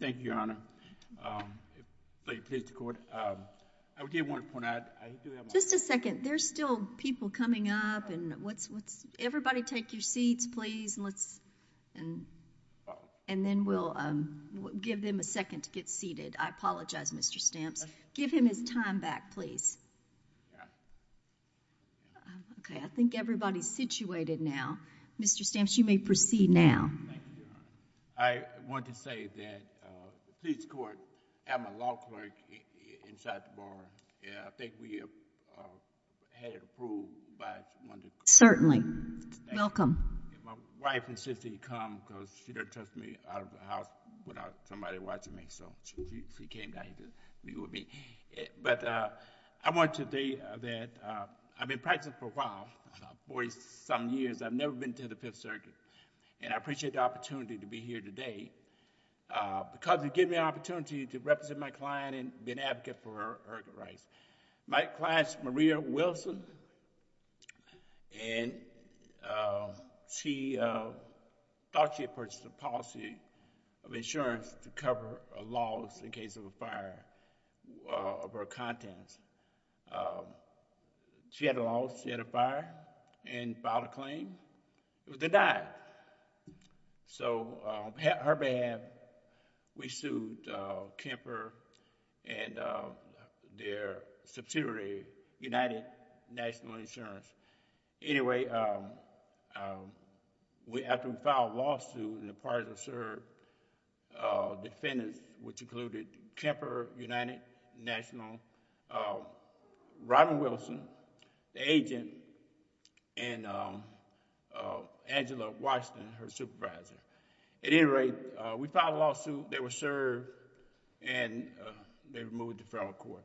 Thank you, Your Honor. Lady Plaintiff's Court. I did want to point out, I do have a... Just a second. There's still people coming up and what's... Everybody take your seats, please, and let's... And then we'll give them a second to get seated. I apologize, Mr. Stamps. Give him his time back, please. Okay, I think everybody's situated now. Mr. Stamps, you may proceed now. Thank you, Your Honor. I want to say that the police court, I'm a law clerk inside the bar, and I think we have had it approved by... Certainly. Welcome. My wife insisted he come because she doesn't trust me out of the house without somebody watching me, so she came down here to meet with me. But I want to say that I've been practicing for a while, for some years, I've never been to the Fifth Circuit, and I appreciate the opportunity to be here today because it gives me the opportunity to represent my client and be an advocate for her rights. My client's Maria Wilson, and she thought she had purchased a policy of insurance to cover a loss in case of a fire of her contents. She had a loss, she had a fire, and filed a claim. They died. On her behalf, we sued Kemper and their subsidiary, United National Insurance. Anyway, after we filed a lawsuit, the parties that served defendants, which included Kemper United National, Robin Wilson, the agent, and Angela Washington, her supervisor. At any rate, we filed a lawsuit, they were served, and they were moved to federal court.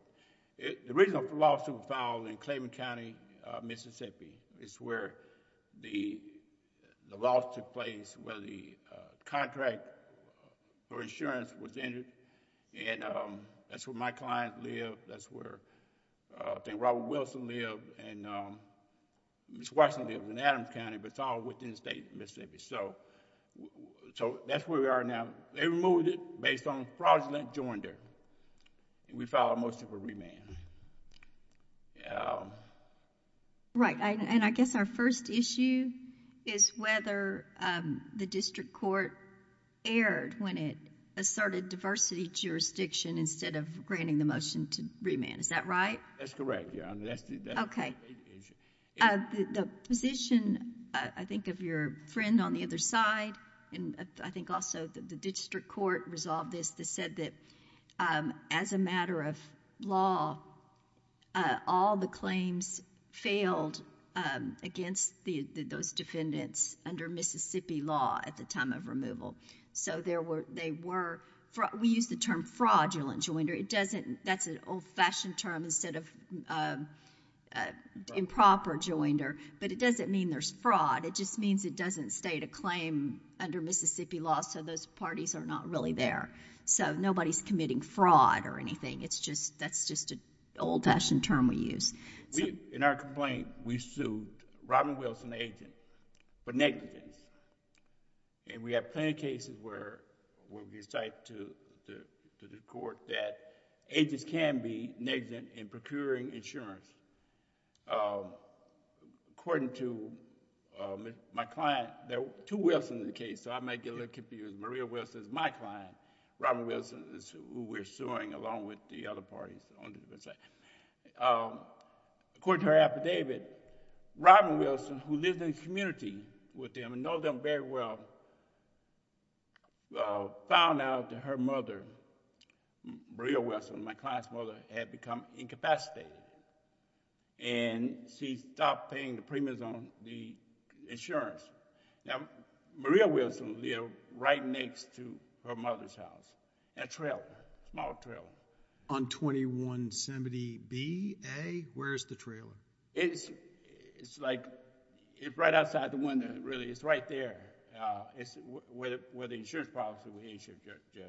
The original lawsuit was filed in Claiborne County, Mississippi. It's where the loss took place, where the contract for insurance was entered, and that's where my client lived, that's where I think Robin Wilson lived, and Ms. Washington lived in Adams County, but it's all within the state of Mississippi. That's where we are now. They removed it based on fraudulent joinder, and we filed a motion for remand. Right, and I guess our first issue is whether the district court erred when it asserted diversity jurisdiction instead of granting the motion to remand. Is that right? That's correct, yeah. Okay. The position, I think, of your friend on the other side, and I think also the district court resolved this, they said that as a matter of law, all the claims failed against those defendants under Mississippi law at the time of removal. So we used the term fraudulent joinder. That's an old-fashioned term instead of improper joinder, but it doesn't mean there's fraud. It just means it doesn't state a claim under Mississippi law, so those parties are not really there. So nobody's committing fraud or anything. That's just an old-fashioned term we use. In our complaint, we sued Robin Wilson, the agent, for negligence, and we have plenty of cases where we cite to the court that agents can be negligent in procuring insurance. According to my client, there are two Wilsons in the case, so I might get a little confused. Maria Wilson is my client. Robin Wilson is who we're suing, along with the other parties on the defense side. According to her affidavit, Robin Wilson, who lives in the community with them and knows them very well, found out that her mother, Maria Wilson, my client's mother, had become incapacitated, and she stopped paying the premiums on the insurance. Now, Maria Wilson lived right next to her mother's house, a trailer, a small trailer. On 2170-B-A, where is the trailer? It's right outside the window, really. It's right there, where the insurance policy was issued, Judge.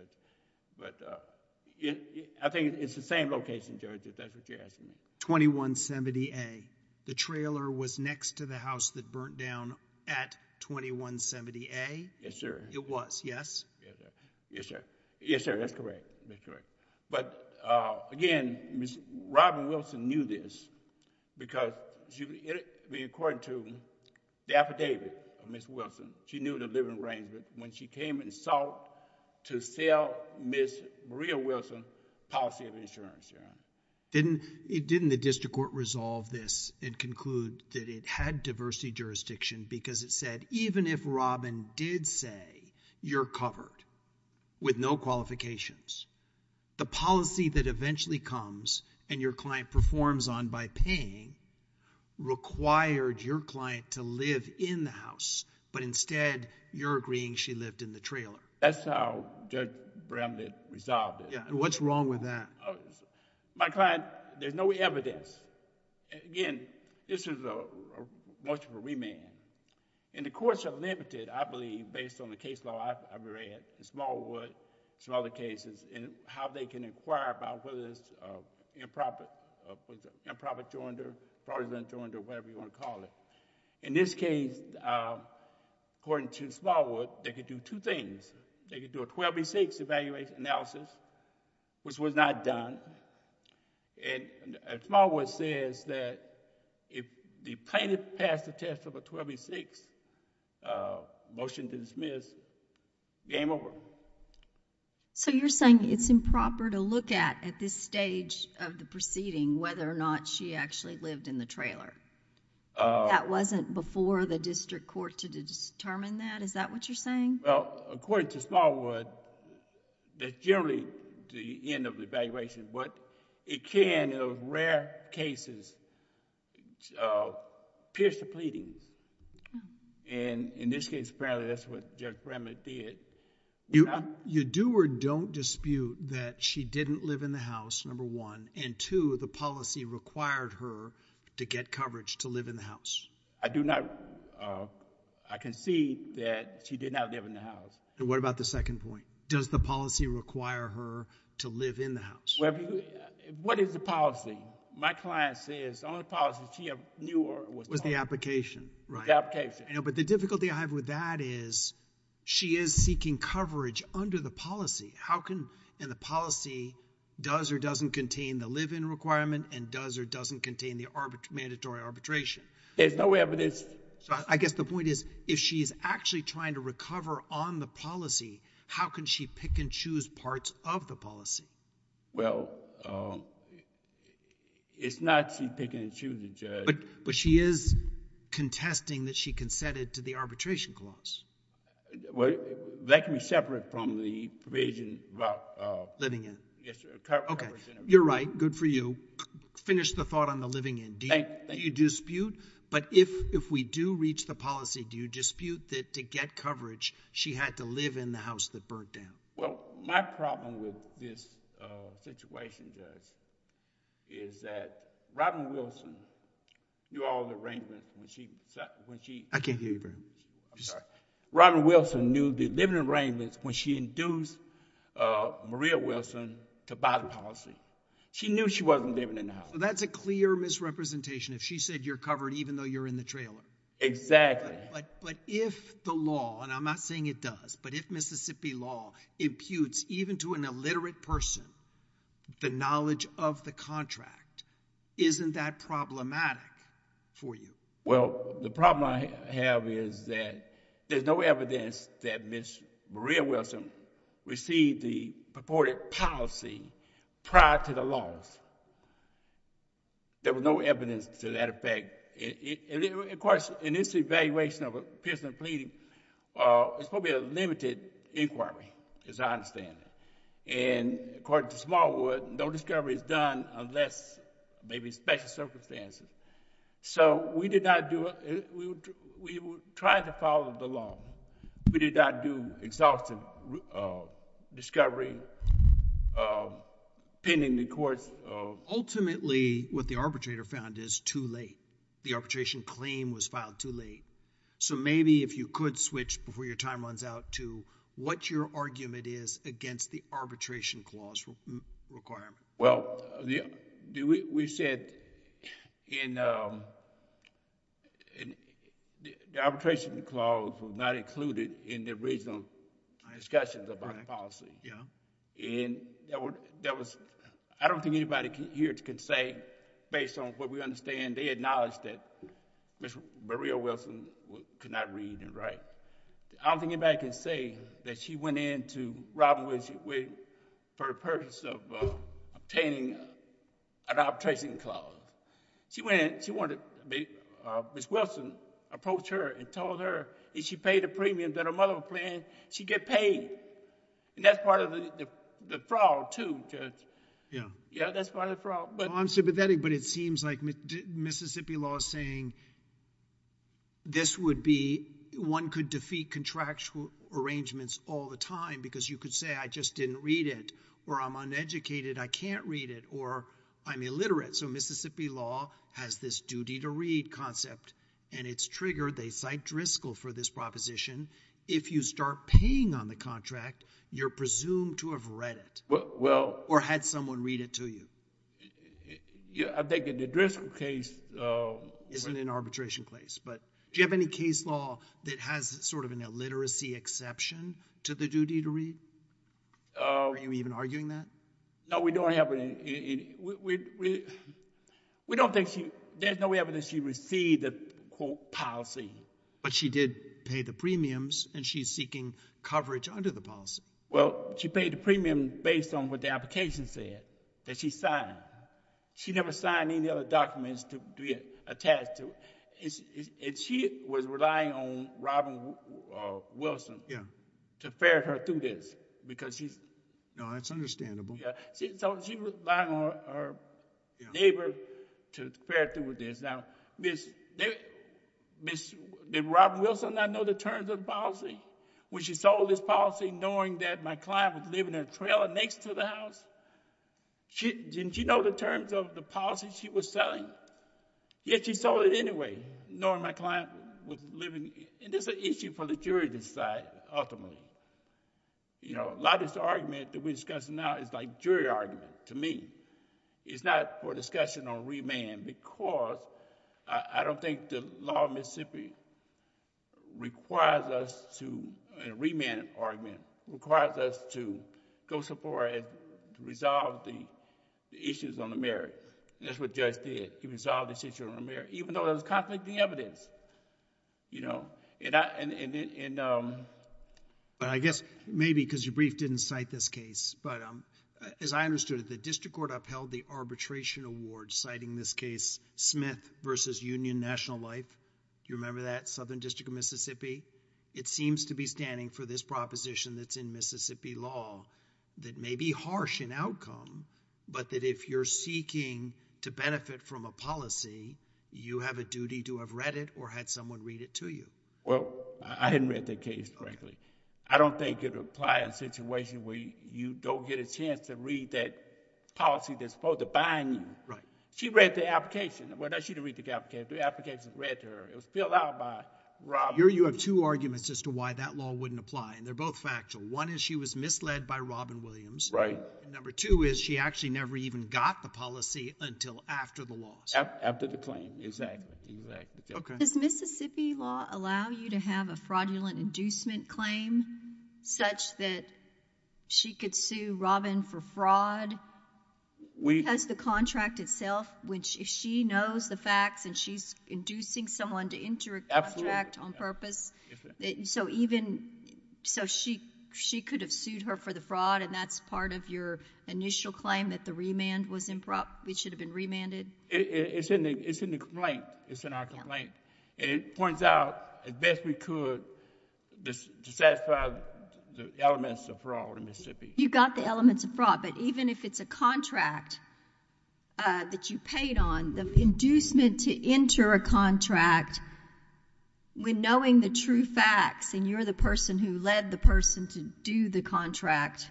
I think it's the same location, Judge, if that's what you're asking me. 2170-A, the trailer was next to the house that burnt down at 2170-A? Yes, sir. It was, yes? Yes, sir. Yes, sir. That's correct. That's correct. But, again, Robin Wilson knew this because, according to the affidavit of Ms. Wilson, she knew the living arrangement when she came and sought to sell Ms. Maria Wilson's policy of insurance, Your Honor. Didn't the district court resolve this and conclude that it had diversity jurisdiction because it said even if Robin did say, you're covered with no qualifications, the policy that eventually comes and your client performs on by paying required your client to live in the house, but instead you're agreeing she lived in the trailer? That's how Judge Bramlett resolved it. What's wrong with that? My client, there's no evidence. Again, this is a motion for remand. The courts are limited, I believe, based on the case law I've read, in Smallwood, some other cases, and how they can inquire about whether there's an improper joinder, fraudulent joinder, whatever you want to call it. In this case, according to Smallwood, they could do two things. They could do a 12-6 evaluation analysis, which was not done. And Smallwood says that if the plaintiff passed the test of a 12-6 motion to dismiss, game over. You're saying it's improper to look at, at this stage of the proceeding, whether or not she actually lived in the trailer? That wasn't before the district court to determine that? Is that what you're saying? According to Smallwood, that's generally the end of the evaluation, but it can, in rare cases, pierce the pleadings. In this case, apparently that's what Judge Bramlett did. You do or don't dispute that she didn't live in the house, number one, and, two, the policy required her to get coverage to live in the house? I do not. I concede that she did not live in the house. And what about the second point? Does the policy require her to live in the house? What is the policy? My client says the only policy she knew was the policy. Was the application, right? The application. But the difficulty I have with that is she is seeking coverage under the policy. How can, and the policy does or doesn't contain the live-in requirement and does or doesn't contain the mandatory arbitration. There's no evidence. I guess the point is, if she's actually trying to recover on the policy, how can she pick and choose parts of the policy? Well, it's not she picking and choosing, Judge. But she is contesting that she consented to the arbitration clause. Well, that can be separate from the provision about coverage. You're right. Good for you. Finish the thought on the living in. Do you dispute? But if we do reach the policy, do you dispute that to get coverage, she had to live in the house that burnt down? Well, my problem with this situation, Judge, is that Robin Wilson knew all the arrangements when she... I can't hear you very well. I'm sorry. Robin Wilson knew the living arrangements when she induced Maria Wilson to buy the policy. She knew she wasn't living in the house. That's a clear misrepresentation. If she said you're covered even though you're in the trailer. Exactly. But if the law, and I'm not saying it does, but if Mississippi law imputes even to an illiterate person the knowledge of the contract, isn't that problematic for you? Well, the problem I have is that there's no evidence that Ms. Maria Wilson received the purported policy prior to the loss. There was no evidence to that effect. Of course, in this evaluation of a person pleading, it's probably a limited inquiry as I understand it. According to Smallwood, no discovery is done unless maybe special circumstances. We did not do... we tried to follow the law. We did not do exhaustive discovery pending the court's... Ultimately, what the arbitrator found is too late. The arbitration claim was filed too late. Maybe if you could switch before your time runs out to what your argument is against the arbitration clause requirement. Well, we said the arbitration clause was not included in the original discussions about the policy. I don't think anybody here can say, based on what we understand, they acknowledge that Ms. Maria Wilson could not read and write. I don't think anybody can say that she went into Robinwood for the purpose of obtaining an arbitration clause. She went in, she wanted... Ms. Wilson approached her and told her if she paid the premium that her mother was paying, she'd get paid. That's part of the fraud too, Judge. Yeah, that's part of the fraud. Well, I'm sympathetic, but it seems like Mississippi law is saying this would be... one could defeat contractual arrangements all the time because you could say I just didn't read it, or I'm uneducated, I can't read it, or I'm illiterate. So Mississippi law has this duty to read concept, and it's triggered. They cite Driscoll for this proposition. If you start paying on the contract, you're presumed to have read it or had someone read it to you. I think in the Driscoll case... It's in an arbitration case, but do you have any case law that has sort of an illiteracy exception to the duty to read? Are you even arguing that? No, we don't have any. We don't think she... there's no evidence she received the policy. But she did pay the premiums, and she's seeking coverage under the policy. Well, she paid the premium based on what the application said that she signed. She never signed any other documents to be attached to. And she was relying on Robin Wilson to ferret her through this because she's... No, that's understandable. So she was relying on her neighbor to ferret through this. Now, did Robin Wilson not know the terms of the policy? When she sold this policy, knowing that my client was living in a trailer next to the house, didn't she know the terms of the policy she was selling? Yet, she sold it anyway, knowing my client was living... And this is an issue for the jury to decide, ultimately. A lot of this argument that we're discussing now is like jury argument to me. It's not for discussion on remand because I don't think the law of Mississippi requires us to, in a remand argument, requires us to go so far as to resolve the issues on the merit. That's what Judge did. He resolved this issue on the merit, even though there was conflicting evidence. You know, and I... But I guess maybe because your brief didn't cite this case, but as I understood it, the district court upheld the arbitration award citing this case, Smith v. Union National Life. Do you remember that, Southern District of Mississippi? It seems to be standing for this proposition that's in Mississippi law that may be harsh in outcome, but that if you're seeking to benefit from a policy, you have a duty to have read it or had someone read it to you. Well, I hadn't read that case correctly. I don't think it would apply in a situation where you don't get a chance to read that policy that's supposed to bind you. Right. She read the application. She hasn't read her. It was filled out by Robin. Here you have two arguments as to why that law wouldn't apply, and they're both factual. One is she was misled by Robin Williams. Right. Number two is she actually never even got the policy until after the loss. After the claim, exactly. Does Mississippi law allow you to have a fraudulent inducement claim such that she could sue Robin for fraud? Because the contract itself, if she knows the facts and she's inducing someone to enter a contract on purpose, so she could have sued her for the fraud and that's part of your initial claim that the remand was improper, it should have been remanded? It's in the complaint. It's in our complaint. It points out as best we could to satisfy the elements of fraud in Mississippi. You've got the elements of fraud, but even if it's a contract that you paid on, the inducement to enter a contract when knowing the true facts and you're the person who led the person to do the contract,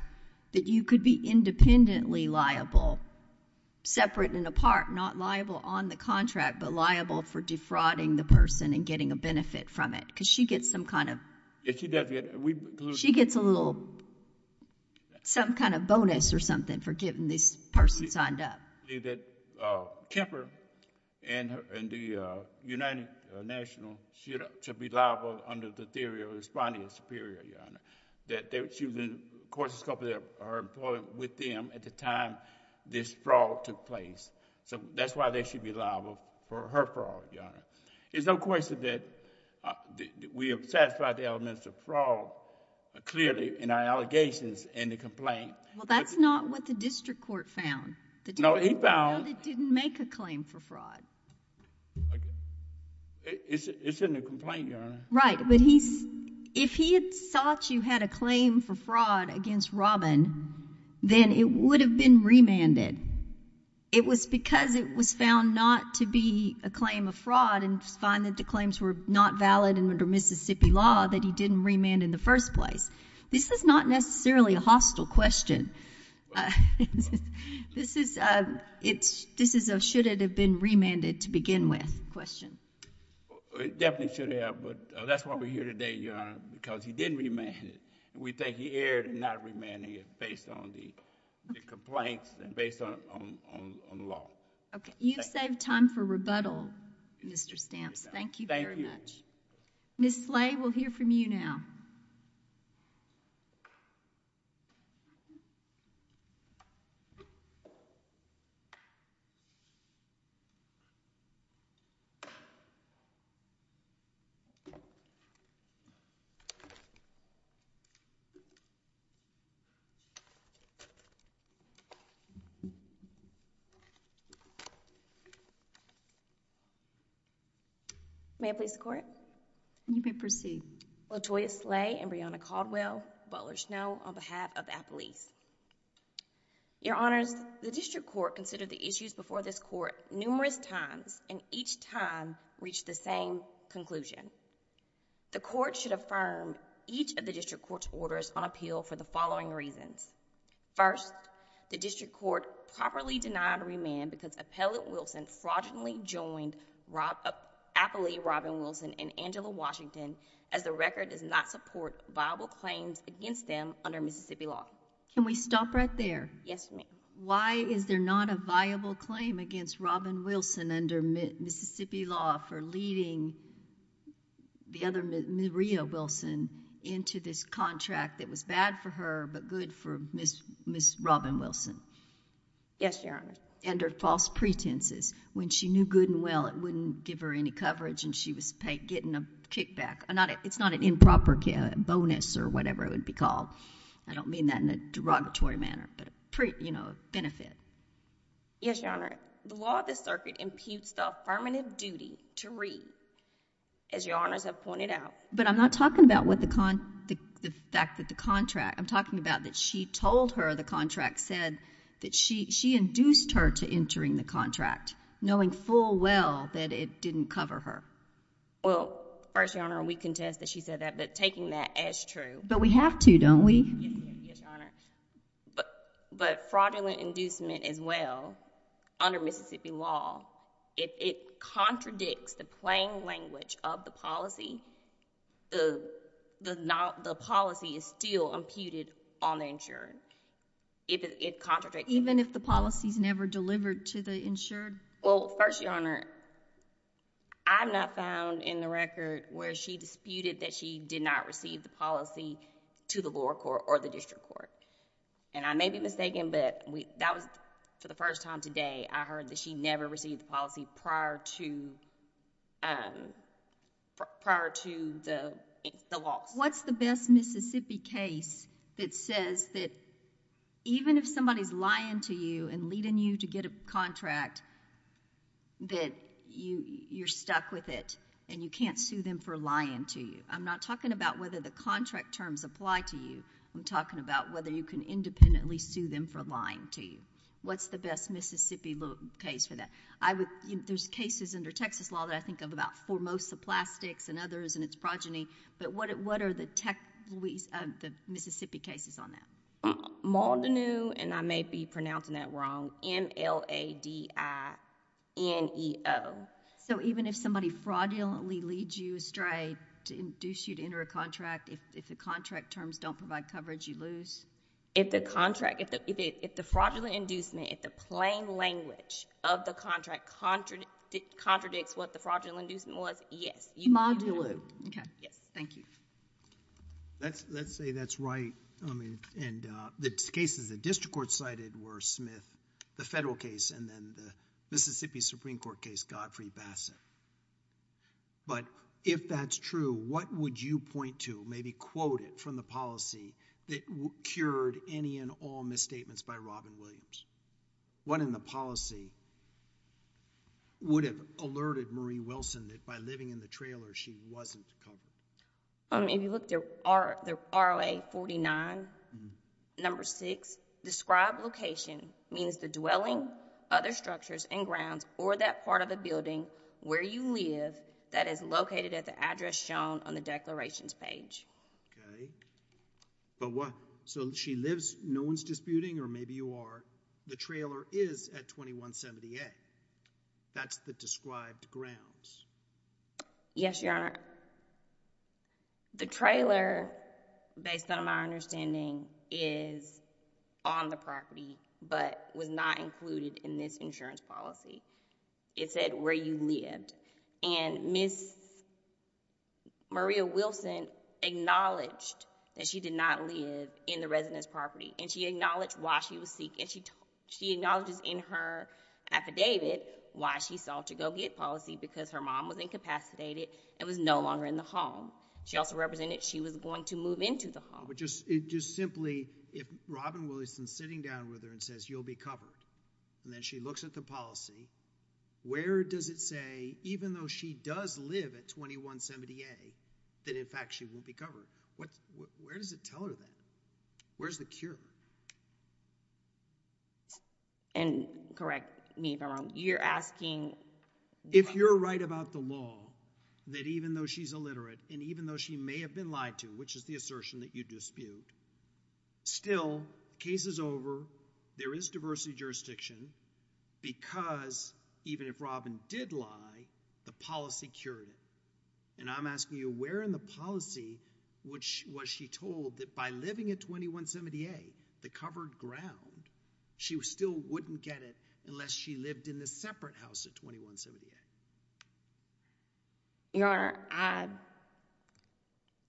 that you could be independently liable, separate and apart, not liable on the contract, but liable for defrauding the person and getting a benefit from it. Because she gets some kind of bonus or something for getting this person signed up. I believe that Kemper and the United National should be liable under the theory of responding superior, Your Honor, that she was in a courses with them at the time this fraud took place. So that's why they should be liable for her fraud, Your Honor. There's no question that we have satisfied the elements of fraud, clearly, in our allegations in the complaint. Well, that's not what the district court found. No, he found... The district court found it didn't make a claim for fraud. It's in the complaint, Your Honor. Right, but if he had thought you had a claim for fraud against Robin, then it would have been remanded. It was because it was found not to be a claim of fraud and find that the claims were not valid under Mississippi law that he didn't remand in the first place. This is not necessarily a hostile question. This is a should it have been remanded to begin with question. It definitely should have, but that's why we're here today, Your Honor, because he didn't remand it. We think he erred in not remanding it based on the complaints and based on the law. Okay. You've saved time for rebuttal, Mr. Stamps. Thank you very much. Thank you. Ms. Slay, we'll hear from you now. May I please support it? You may proceed. Latoya Slay and Breonna Caldwell, Butler Snow on behalf of Appalachia Police. Your Honors, the district court considered the issues before this court numerous times and each time reached the same conclusion. The court should affirm each of the district court's orders on appeal for the following reasons. First, the district court properly denied remand because Appellant Wilson fraudulently joined Appalachia Robin Wilson and Angela Washington as the record does not support viable claims against them under Mississippi law. Can we stop right there? Yes, ma'am. Why is there not a viable claim against Robin Wilson under Mississippi law for leading the other Maria Wilson into this contract that was bad for her but good for Ms. Robin Wilson? Yes, Your Honor. Under false pretenses. When she knew good and well, it wouldn't give her any coverage and she was getting a kickback. It's not an improper bonus or whatever it would be called. I don't mean that in a derogatory manner, but a benefit. Yes, Your Honor. The law of the circuit imputes the affirmative duty to read, as Your Honors have pointed out. But I'm not talking about the fact that the contract, I'm talking about that she told her the contract said that she induced her to entering the contract knowing full well that it didn't cover her. Well, first, Your Honor, we contest that she said that, but taking that as true. But we have to, don't we? Yes, Your Honor. But fraudulent inducement as well under Mississippi law, it contradicts the plain language of the policy. The policy is still imputed on the insured. It contradicts the policy. Even if the policy is never delivered to the insured? Well, first, Your Honor, I'm not found in the record where she disputed that she did not receive the policy to the lower court or the district court. And I may be mistaken, but that was, for the first time today, I heard that she never received the policy prior to the loss. What's the best Mississippi case that says that even if somebody's lying to you and leading you to get a contract, that you're stuck with it and you can't sue them for lying to you? I'm not talking about whether the contract terms apply to you. I'm talking about whether you can independently sue them for lying to you. What's the best Mississippi case for that? There's cases under Texas law that I think of about Formosa Plastics and others and its progeny, but what are the Mississippi cases on that? Maldonado, and I may be pronouncing that wrong, M-L-A-D-I-N-E-O. Even if somebody fraudulently leads you astray to induce you to enter a contract, if the contract terms don't provide coverage, you lose? If the contract, if the fraudulent inducement, if the plain language of the contract contradicts what the fraudulent inducement was, yes. Maldonado. Okay. Yes. Thank you. Let's say that's right, and the cases the district court cited were Smith, the federal case, and then the Mississippi Supreme Court case, Godfrey Bassett. But if that's true, what would you point to, maybe quote it from the policy that cured any and all misstatements by Robin Williams? What in the policy would have alerted Marie Wilson that by living in the trailer she wasn't covered? If you look at the R-O-A 49, number six, described location means the dwelling, other structures and grounds, or that part of the building where you live that is located at the address shown on the declarations page. But what, so she lives, no one's disputing, or maybe you are, the trailer is at 2170A. That's the described grounds. Yes, Your Honor. The trailer, based on my understanding, is on the property, but was not included in this insurance policy. It said where you lived. And Ms. Maria Wilson acknowledged that she did not live in the resident's property, and she acknowledged why she was seeking, she acknowledges in her affidavit why she sought to go get policy because her mom was incapacitated and was no longer in the home. She also represented she was going to move into the home. But just simply, if Robin Williams is sitting down with her and says, you'll be covered, and then she looks at the policy, where does it say, even though she does live at 2170A, that in fact she won't be covered? Where does it tell her that? Where's the cure? And correct me if I'm wrong, you're asking... If you're right about the law, that even though she's illiterate, and even though she may have been lied to, which is the assertion that you dispute, still, case is over, there is diversity of jurisdiction, because even if Robin did lie, the policy cured it. And I'm asking you, where in the policy was she told that by living at 2170A, the covered ground, she still wouldn't get it unless she lived in the separate house at 2170A? Your Honor, I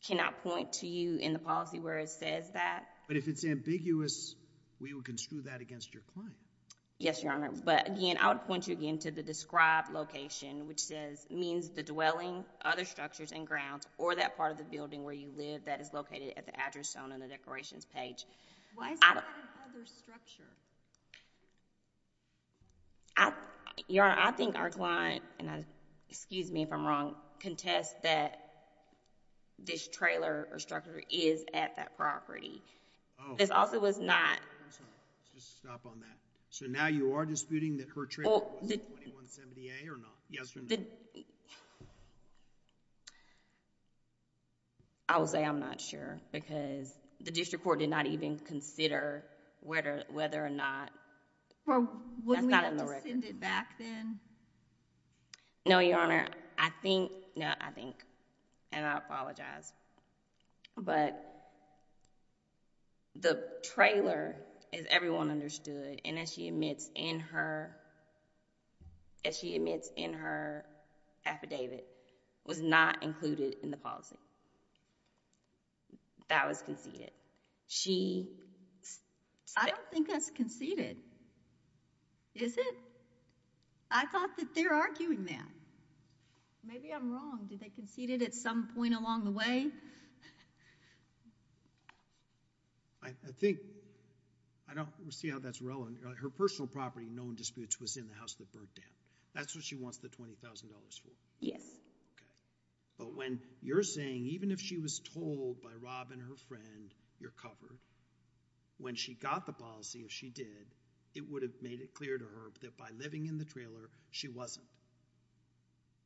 cannot point to you in the policy where it says that. But if it's ambiguous, we will construe that against your client. Yes, Your Honor. But again, I would point you again to the described location, which means the dwelling, other structures and grounds, or that part of the building where you live that is located at the address zone on the Decorations page. Why is it at another structure? Your Honor, I think our client, and excuse me if I'm wrong, contests that this trailer or structure is at that property. This also was not... I'm sorry, let's just stop on that. So now you are disputing that her trailer was at 2170A or not? Yes or no? I will say I'm not sure, because the district court did not even consider whether or not... Well, wouldn't we have to send it back then? No, Your Honor. I think... No, I think, and I apologize. But the trailer, as everyone understood, and as she admits in her affidavit, was not included in the policy. That was conceded. I don't think that's conceded, is it? I thought that they're arguing that. Maybe I'm wrong. Did they concede it at some point along the way? I think... I don't see how that's relevant. Her personal property, no one disputes, was in the house of the bird dam. That's what she wants the $20,000 for? Yes. Okay. But when you're saying, even if she was told by Rob and her friend, you're covered, when she got the policy, if she did, it would have made it clear to her that by living in the trailer, she wasn't.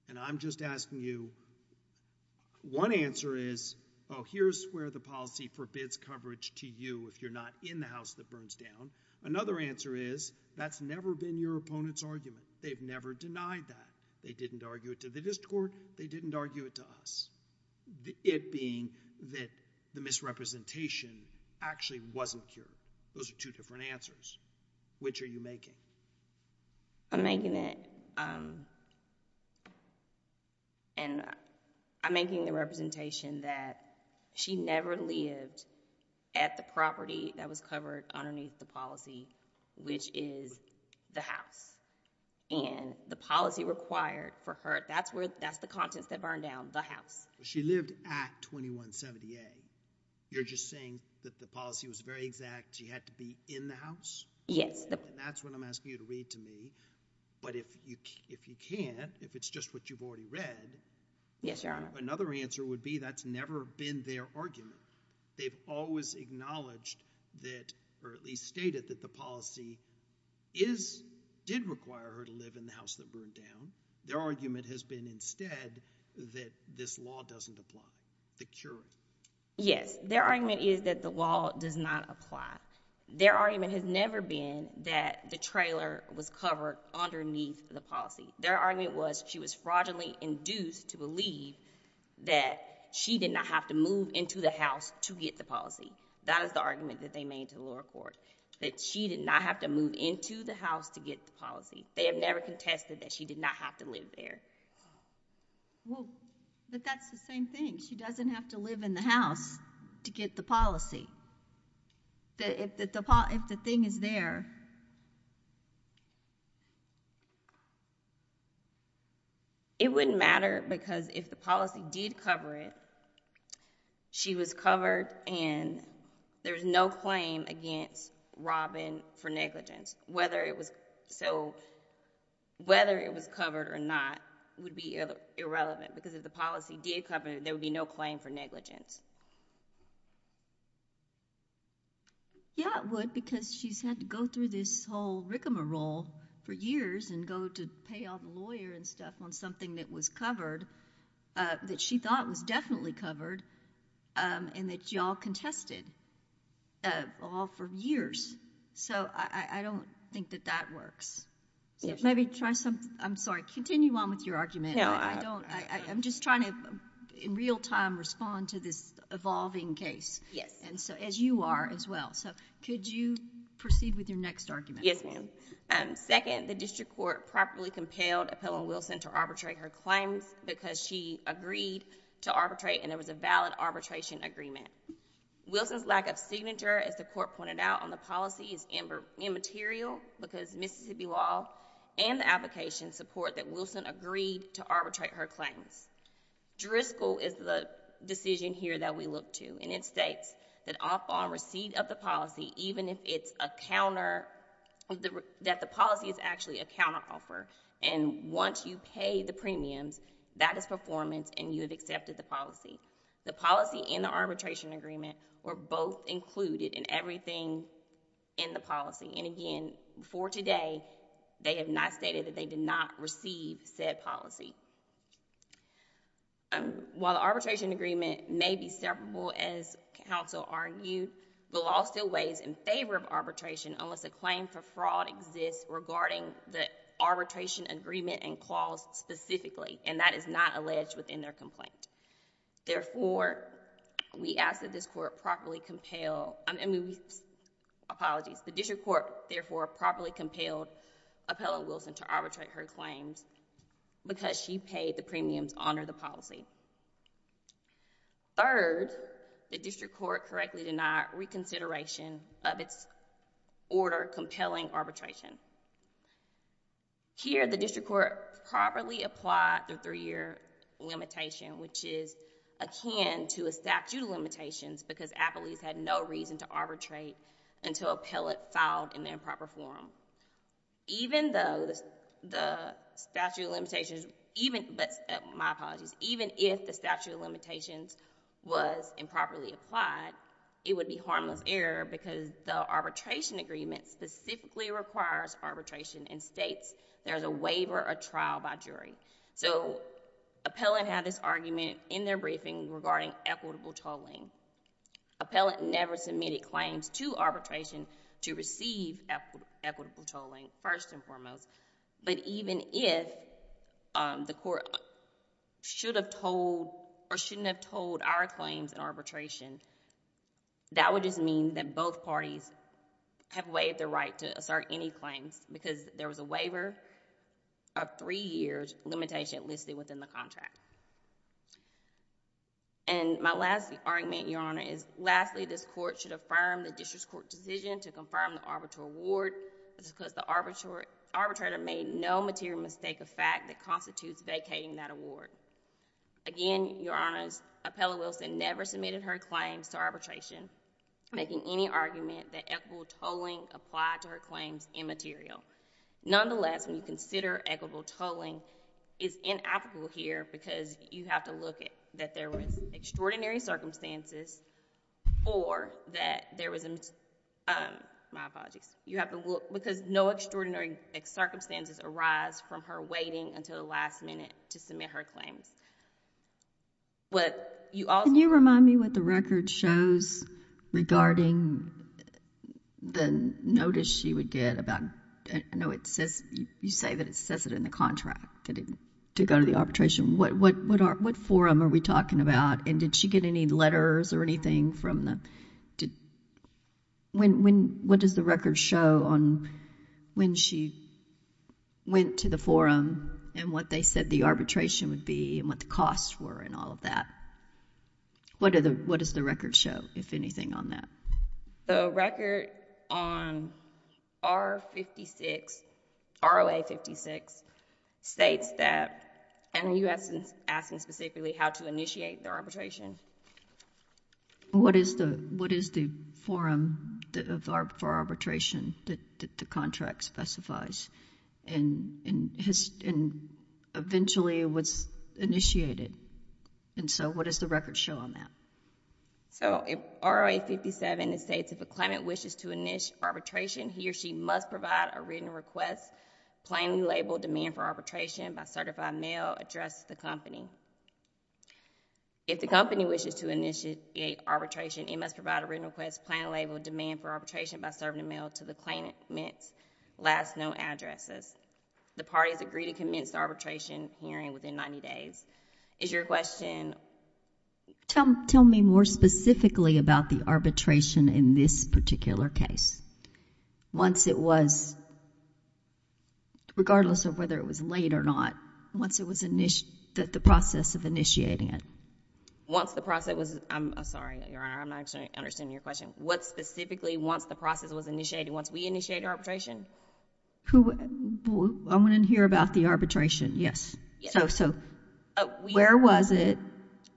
And I'm just asking you, one answer is, oh, here's where the policy forbids coverage to you if you're not in the house of the bird dam. Another answer is, that's never been your opponent's argument. They've never denied that. They didn't argue it to the district court. They didn't argue it to us. It being that the misrepresentation actually wasn't here. Those are two different answers. Which are you making? I'm making it, and I'm making the representation that she never lived at the property that was covered underneath the policy, which is the house. And the policy required for her, that's the contents that burned down, the house. She lived at 2170A. You're just saying that the policy was very exact, she had to be in the house? Yes. That's what I'm asking you to read to me. But if you can't, if it's just what you've already read. Yes, Your Honor. Another answer would be, that's never been their argument. They've always acknowledged that, or at least stated that the policy did require her to live in the house that burned down. Their argument has been instead that this law doesn't apply. The cure. Yes, their argument is that the law does not apply. Their argument has never been that the trailer was covered underneath the policy. Their argument was, she was fraudulently induced to believe that she did not have to move into the house to get the policy. That is the argument that they made to the lower court. That she did not have to move into the house to get the policy. They have never contested that she did not have to live there. Well, but that's the same thing. She doesn't have to live in the house to get the policy. If the thing is there... It wouldn't matter, because if the policy did cover it, she was covered, and there's no claim against Robin for negligence. Whether it was covered or not would be irrelevant, because if the policy did cover it, there would be no claim for negligence. Yeah, it would, because she's had to go through this whole rick-a-mole for years and go to pay all the lawyers and stuff on something that was covered, that she thought was definitely covered, and that you all contested all for years. So I don't think that that works. Maybe try something... I'm sorry, continue on with your argument. I'm just trying to, in real time, respond to this evolving case. Yes. As you are as well. Could you proceed with your next argument? Yes, ma'am. Second, the district court properly compelled Appellant Wilson to arbitrate her claims because she agreed to arbitrate, and there was a valid arbitration agreement. Wilson's lack of signature, as the court pointed out, on the policy is immaterial, because Mississippi law and the application support that Wilson agreed to arbitrate her claims. Driscoll is the decision here that we look to, and it states that all fall in receipt of the policy, even if it's a counter... that the policy is actually a counteroffer, and once you pay the premiums, that is performance and you have accepted the policy. The policy and the arbitration agreement were both included in everything in the policy, and again, for today, they have not stated that they did not receive said policy. While the arbitration agreement may be separable as counsel argued, the law still weighs in favor of arbitration unless a claim for fraud exists regarding the arbitration agreement and clause specifically, and that is not alleged within their complaint. Therefore, we ask that this court properly compel... Apologies. The district court therefore properly compelled Appellant Wilson to arbitrate her claims because she paid the premiums under the policy. Third, the district court correctly denied reconsideration of its order compelling arbitration. Here, the district court properly applied the three-year limitation, which is akin to a statute of limitations because Appellees had no reason to arbitrate until Appellant filed an improper form. Even though the statute of limitations... My apologies. Even if the statute of limitations was improperly applied, it would be harmless error because the arbitration agreement specifically requires arbitration and states there's a waiver or trial by jury. So Appellant had this argument in their briefing regarding equitable tolling. Appellant never submitted claims to arbitration to receive equitable tolling, first and foremost, but even if the court should have told or shouldn't have told our claims in arbitration, that would just mean that both parties have waived their right to assert any claims because there was a waiver of three years limitation listed within the contract. And my last argument, Your Honor, is lastly this court should affirm the district court decision to confirm the arbitral award because the arbitrator made no material mistake of fact that constitutes vacating that award. Again, Your Honor, Appellant Wilson never submitted her claims to arbitration making any argument that equitable tolling applied to her claims immaterial. Nonetheless, when you consider equitable tolling is inapplicable here because you have to look at that there was extraordinary circumstances or that there was... My apologies. You have to look because no extraordinary circumstances arise from her waiting until the last minute to submit her claims. But you also... Can you remind me what the record shows regarding the notice she would get about... I know it says... You say that it says it in the contract to go to the arbitration. What forum are we talking about and did she get any letters or anything from the... What does the record show on when she went to the forum and what they said the arbitration would be and what the costs were and all of that? What does the record show, if anything, on that? The record on R-56, ROA-56, states that... And you asked specifically how to initiate the arbitration. What is the forum for arbitration that the contract specifies and eventually was initiated? And so what does the record show on that? So ROA-57, it states, if a claimant wishes to initiate arbitration, he or she must provide a written request plainly labeled demand for arbitration by certified mail addressed to the company. If the company wishes to initiate arbitration, it must provide a written request plainly labeled demand for arbitration by certified mail to the claimant's last known addresses. The parties agree to commence the arbitration hearing within 90 days. Is your question... Tell me more specifically about the arbitration in this particular case. Once it was... Regardless of whether it was late or not, once it was init... The process of initiating it. Once the process was... I'm sorry, Your Honor. I'm not actually understanding your question. What specifically, once the process was initiated, once we initiated arbitration? Who... I want to hear about the arbitration, yes. So where was it,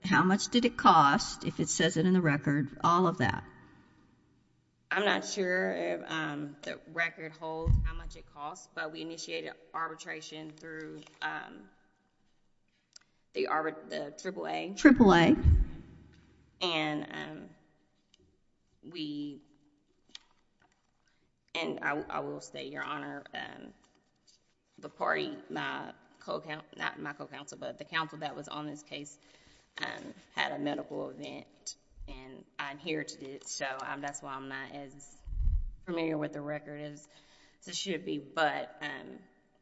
how much did it cost, if it says it in the record, all of that? I'm not sure if the record holds how much it cost, but we initiated arbitration through the triple A. Triple A. And we... And I will say, Your Honor, the party, my co-counsel, not my co-counsel, but the counsel that was on this case had a medical event and I'm here to do it, so that's why I'm not as familiar with the record as I should be, but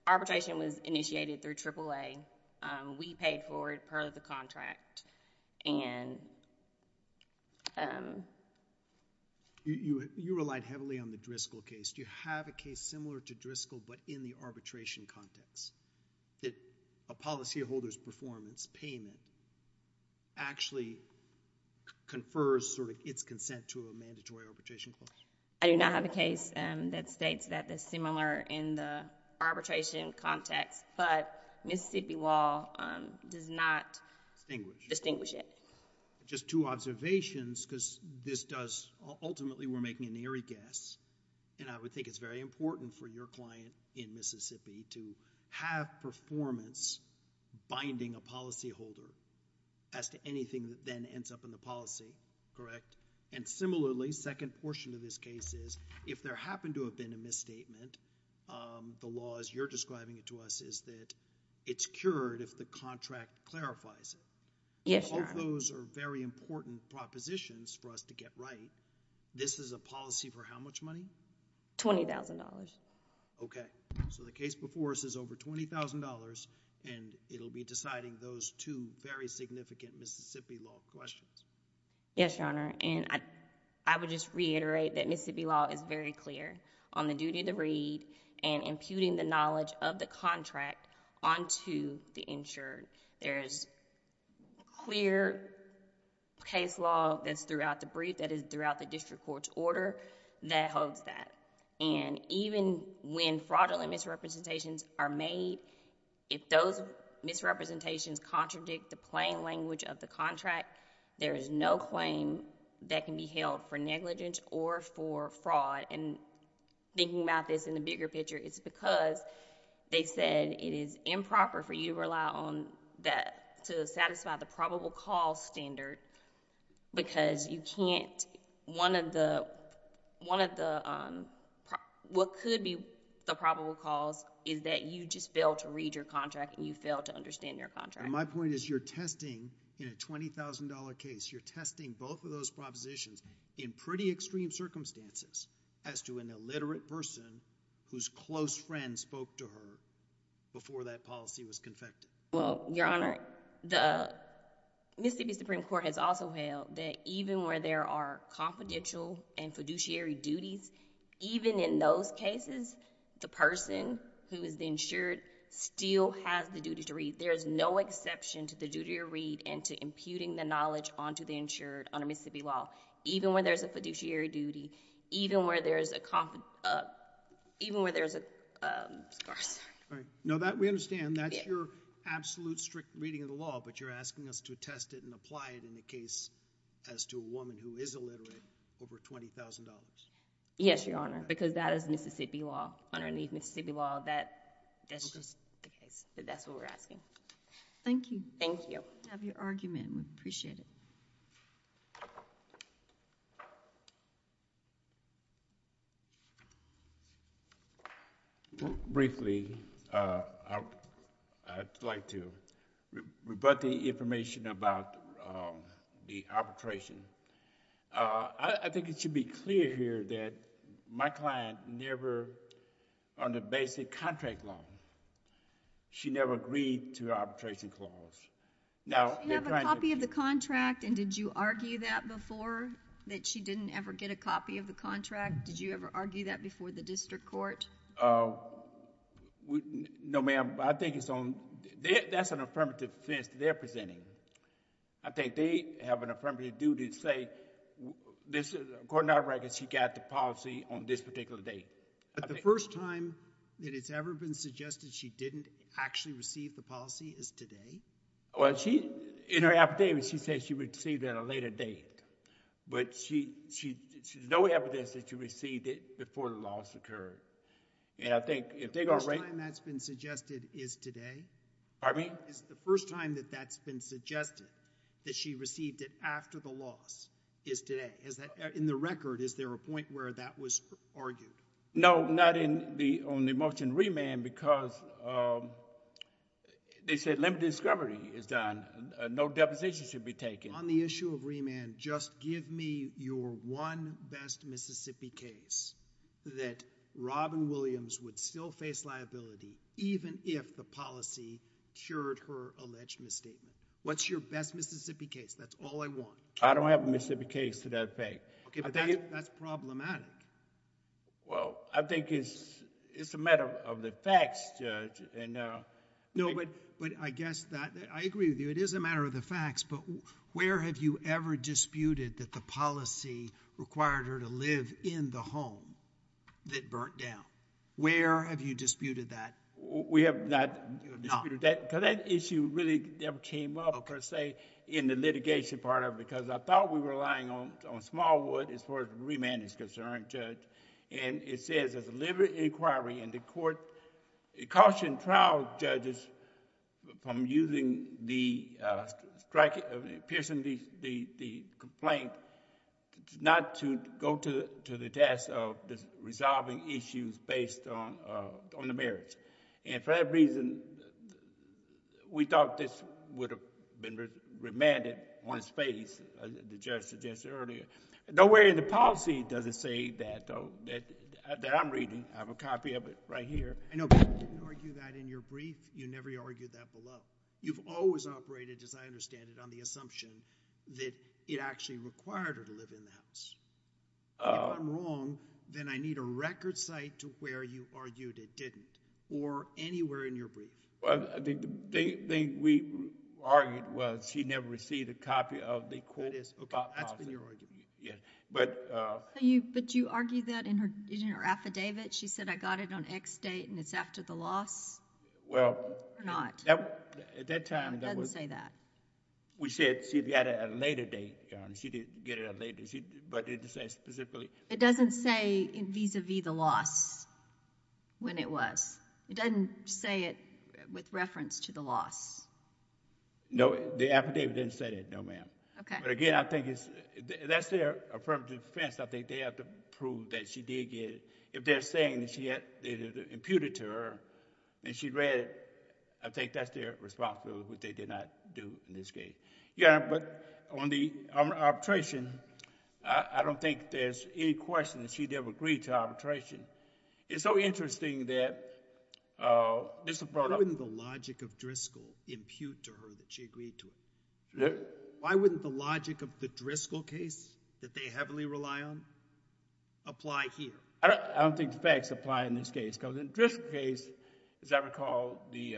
arbitration was initiated through triple A. We paid for it, part of the contract, and... You relied heavily on the Driscoll case. Do you have a case similar to Driscoll, but in the arbitration context, that a policyholder's performance payment actually confers sort of its consent to a mandatory arbitration clause? I do not have a case that states that it's similar in the arbitration context, but Mississippi law does not distinguish it. Just two observations, because this does... Ultimately, we're making an eerie guess, and I would think it's very important for your client in Mississippi to have performance binding a policyholder as to anything that then ends up in the policy, correct? And similarly, second portion of this case is, if there happened to have been a misstatement, the law, as you're describing it to us, is that it's cured if the contract clarifies it. Yes, Your Honor. All those are very important propositions for us to get right. This is a policy for how much money? $20,000. Okay. So the case before us is over $20,000, and it'll be deciding those two very significant Mississippi law questions. Yes, Your Honor. And I would just reiterate that Mississippi law is very clear on the duty to read and imputing the knowledge of the contract onto the insured. There is clear case law that's throughout the brief that is throughout the district court's order that holds that. And even when fraudulent misrepresentations are made, if those misrepresentations contradict the plain language of the contract, there is no claim that can be held for negligence or for fraud. And thinking about this in the bigger picture, it's because they said it is improper for you to rely on that to satisfy the probable cause standard because you can't... One of the... What could be the probable cause is that you just fail to read your contract and you fail to understand your contract. And my point is you're testing in a $20,000 case, you're testing both of those propositions in pretty extreme circumstances as to an illiterate person whose close friend spoke to her before that policy was confected. Well, Your Honor, the Mississippi Supreme Court has also held that even where there are confidential and fiduciary duties, even in those cases, the person who is the insured still has the duty to read. There is no exception to the duty to read and to imputing the knowledge onto the insured under Mississippi law. Even where there's a fiduciary duty, even where there's a... Even where there's a... No, we understand. That's your absolute strict reading of the law, but you're asking us to test it and apply it in a case as to a woman who is illiterate over $20,000. Yes, Your Honor, because that is Mississippi law. Underneath Mississippi law, that's just the case. That's what we're asking. Thank you. Thank you. We have your argument. We appreciate it. Briefly, I'd like to rebut the information about the arbitration. I think it should be clear here that my client never, under basic contract law, she never agreed to her arbitration clause. Do you have a copy of the contract and did you argue that before, that she didn't ever get a copy of the contract? Did you ever argue that before the district court? No, ma'am. I think it's on... That's an affirmative defense they're presenting. I think they have an affirmative duty to say, according to our records, she got the policy on this particular date. The first time that it's ever been suggested she didn't actually receive the policy is today? In her affidavit, she says she received it at a later date, but there's no evidence that she received it before the loss occurred. The first time that's been suggested is today? Pardon me? Is the first time that that's been suggested, that she received it after the loss, is today? In the record, is there a point where that was argued? No, not on the motion remand because they said limited discovery is done. No deposition should be taken. On the issue of remand, just give me your one best Mississippi case that Robin Williams would still face liability even if the policy cured her alleged misstatement. What's your best Mississippi case? That's all I want. I don't have a Mississippi case to that effect. Okay, but that's problematic. Well, I think it's a matter of the facts, Judge. No, but I guess that... I agree with you. It is a matter of the facts, but where have you ever disputed that the policy required her to live in the home that burnt down? Where have you disputed that? We have not disputed that because that issue really never came up, per se, in the litigation part of it because I thought we were relying on Smallwood as far as remand is concerned, Judge. It says, as a deliberate inquiry in the court, it cautioned trial judges from using the strike... piercing the complaint not to go to the task of resolving issues based on the merits. For that reason, we thought this would have been remanded on its face, as the judge suggested earlier. Nowhere in the policy does it say that, though, that I'm reading. I have a copy of it right here. I know you didn't argue that in your brief. You never argued that below. You've always operated, as I understand it, on the assumption that it actually required her to live in the house. If I'm wrong, then I need a record site to where you argued it didn't or anywhere in your brief. The thing we argued was she never received a copy of the quote about policy. That's been your argument. But... But you argued that in her affidavit. She said, I got it on X date and it's after the loss? Well... Or not? At that time, that was... It doesn't say that. We said she got it at a later date, Your Honor. She didn't get it at a later date, but it says specifically... It doesn't say vis-à-vis the loss when it was? It doesn't say it with reference to the loss? No. The affidavit didn't say that, no, ma'am. Okay. But again, I think it's... That's their affirmative defense. I think they have to prove that she did get it. If they're saying that they imputed to her and she read it, I think that's their responsibility, which they did not do in this case. Your Honor, but on the arbitration, I don't think there's any question that she never agreed to arbitration. It's so interesting that... Why wouldn't the logic of Driscoll impute to her that she agreed to it? What? Why wouldn't the logic of the Driscoll case that they heavily rely on apply here? I don't think the facts apply in this case. In the Driscoll case, as I recall, the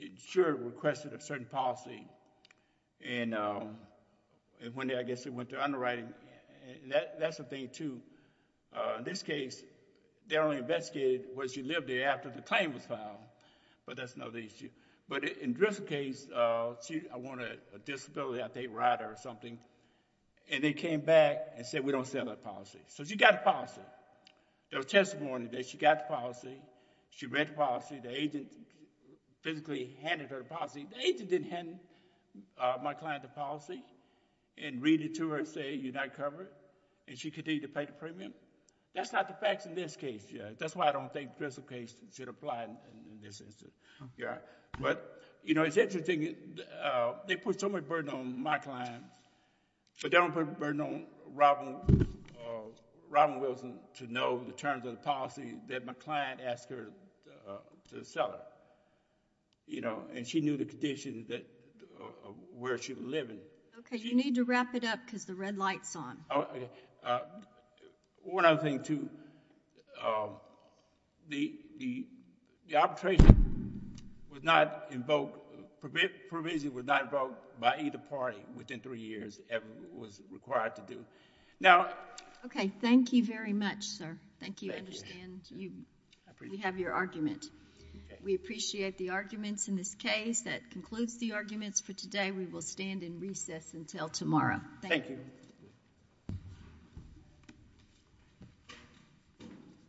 insurer requested a certain policy. I guess it went through underwriting. That's a thing, too. In this case, they only investigated where she lived there after the claim was filed, but that's another issue. But in the Driscoll case, I wanted a disability, I think, rider or something, and they came back and said, we don't sell that policy. She got the policy. There was testimony that she got the policy. She read the policy. The agent physically handed her the policy. The agent didn't hand my client the policy and read it to her and say, you're not covered, and she continued to pay the premium. That's not the facts in this case yet. That's why I don't think the Driscoll case should apply in this instance. Your Honor, but it's interesting. They put so much burden on my client. They don't put burden on Robin Wilson to know the terms of the policy that my client asked her to sell it. She knew the condition of where she was living. Okay. You need to wrap it up because the red light's on. One other thing, too. The arbitration was not invoked... provision was not invoked by either party within three years that was required to do. Now... Okay. Thank you very much, sir. Thank you. I understand you have your argument. We appreciate the arguments in this case. That concludes the arguments for today. We will stand in recess until tomorrow. Thank you.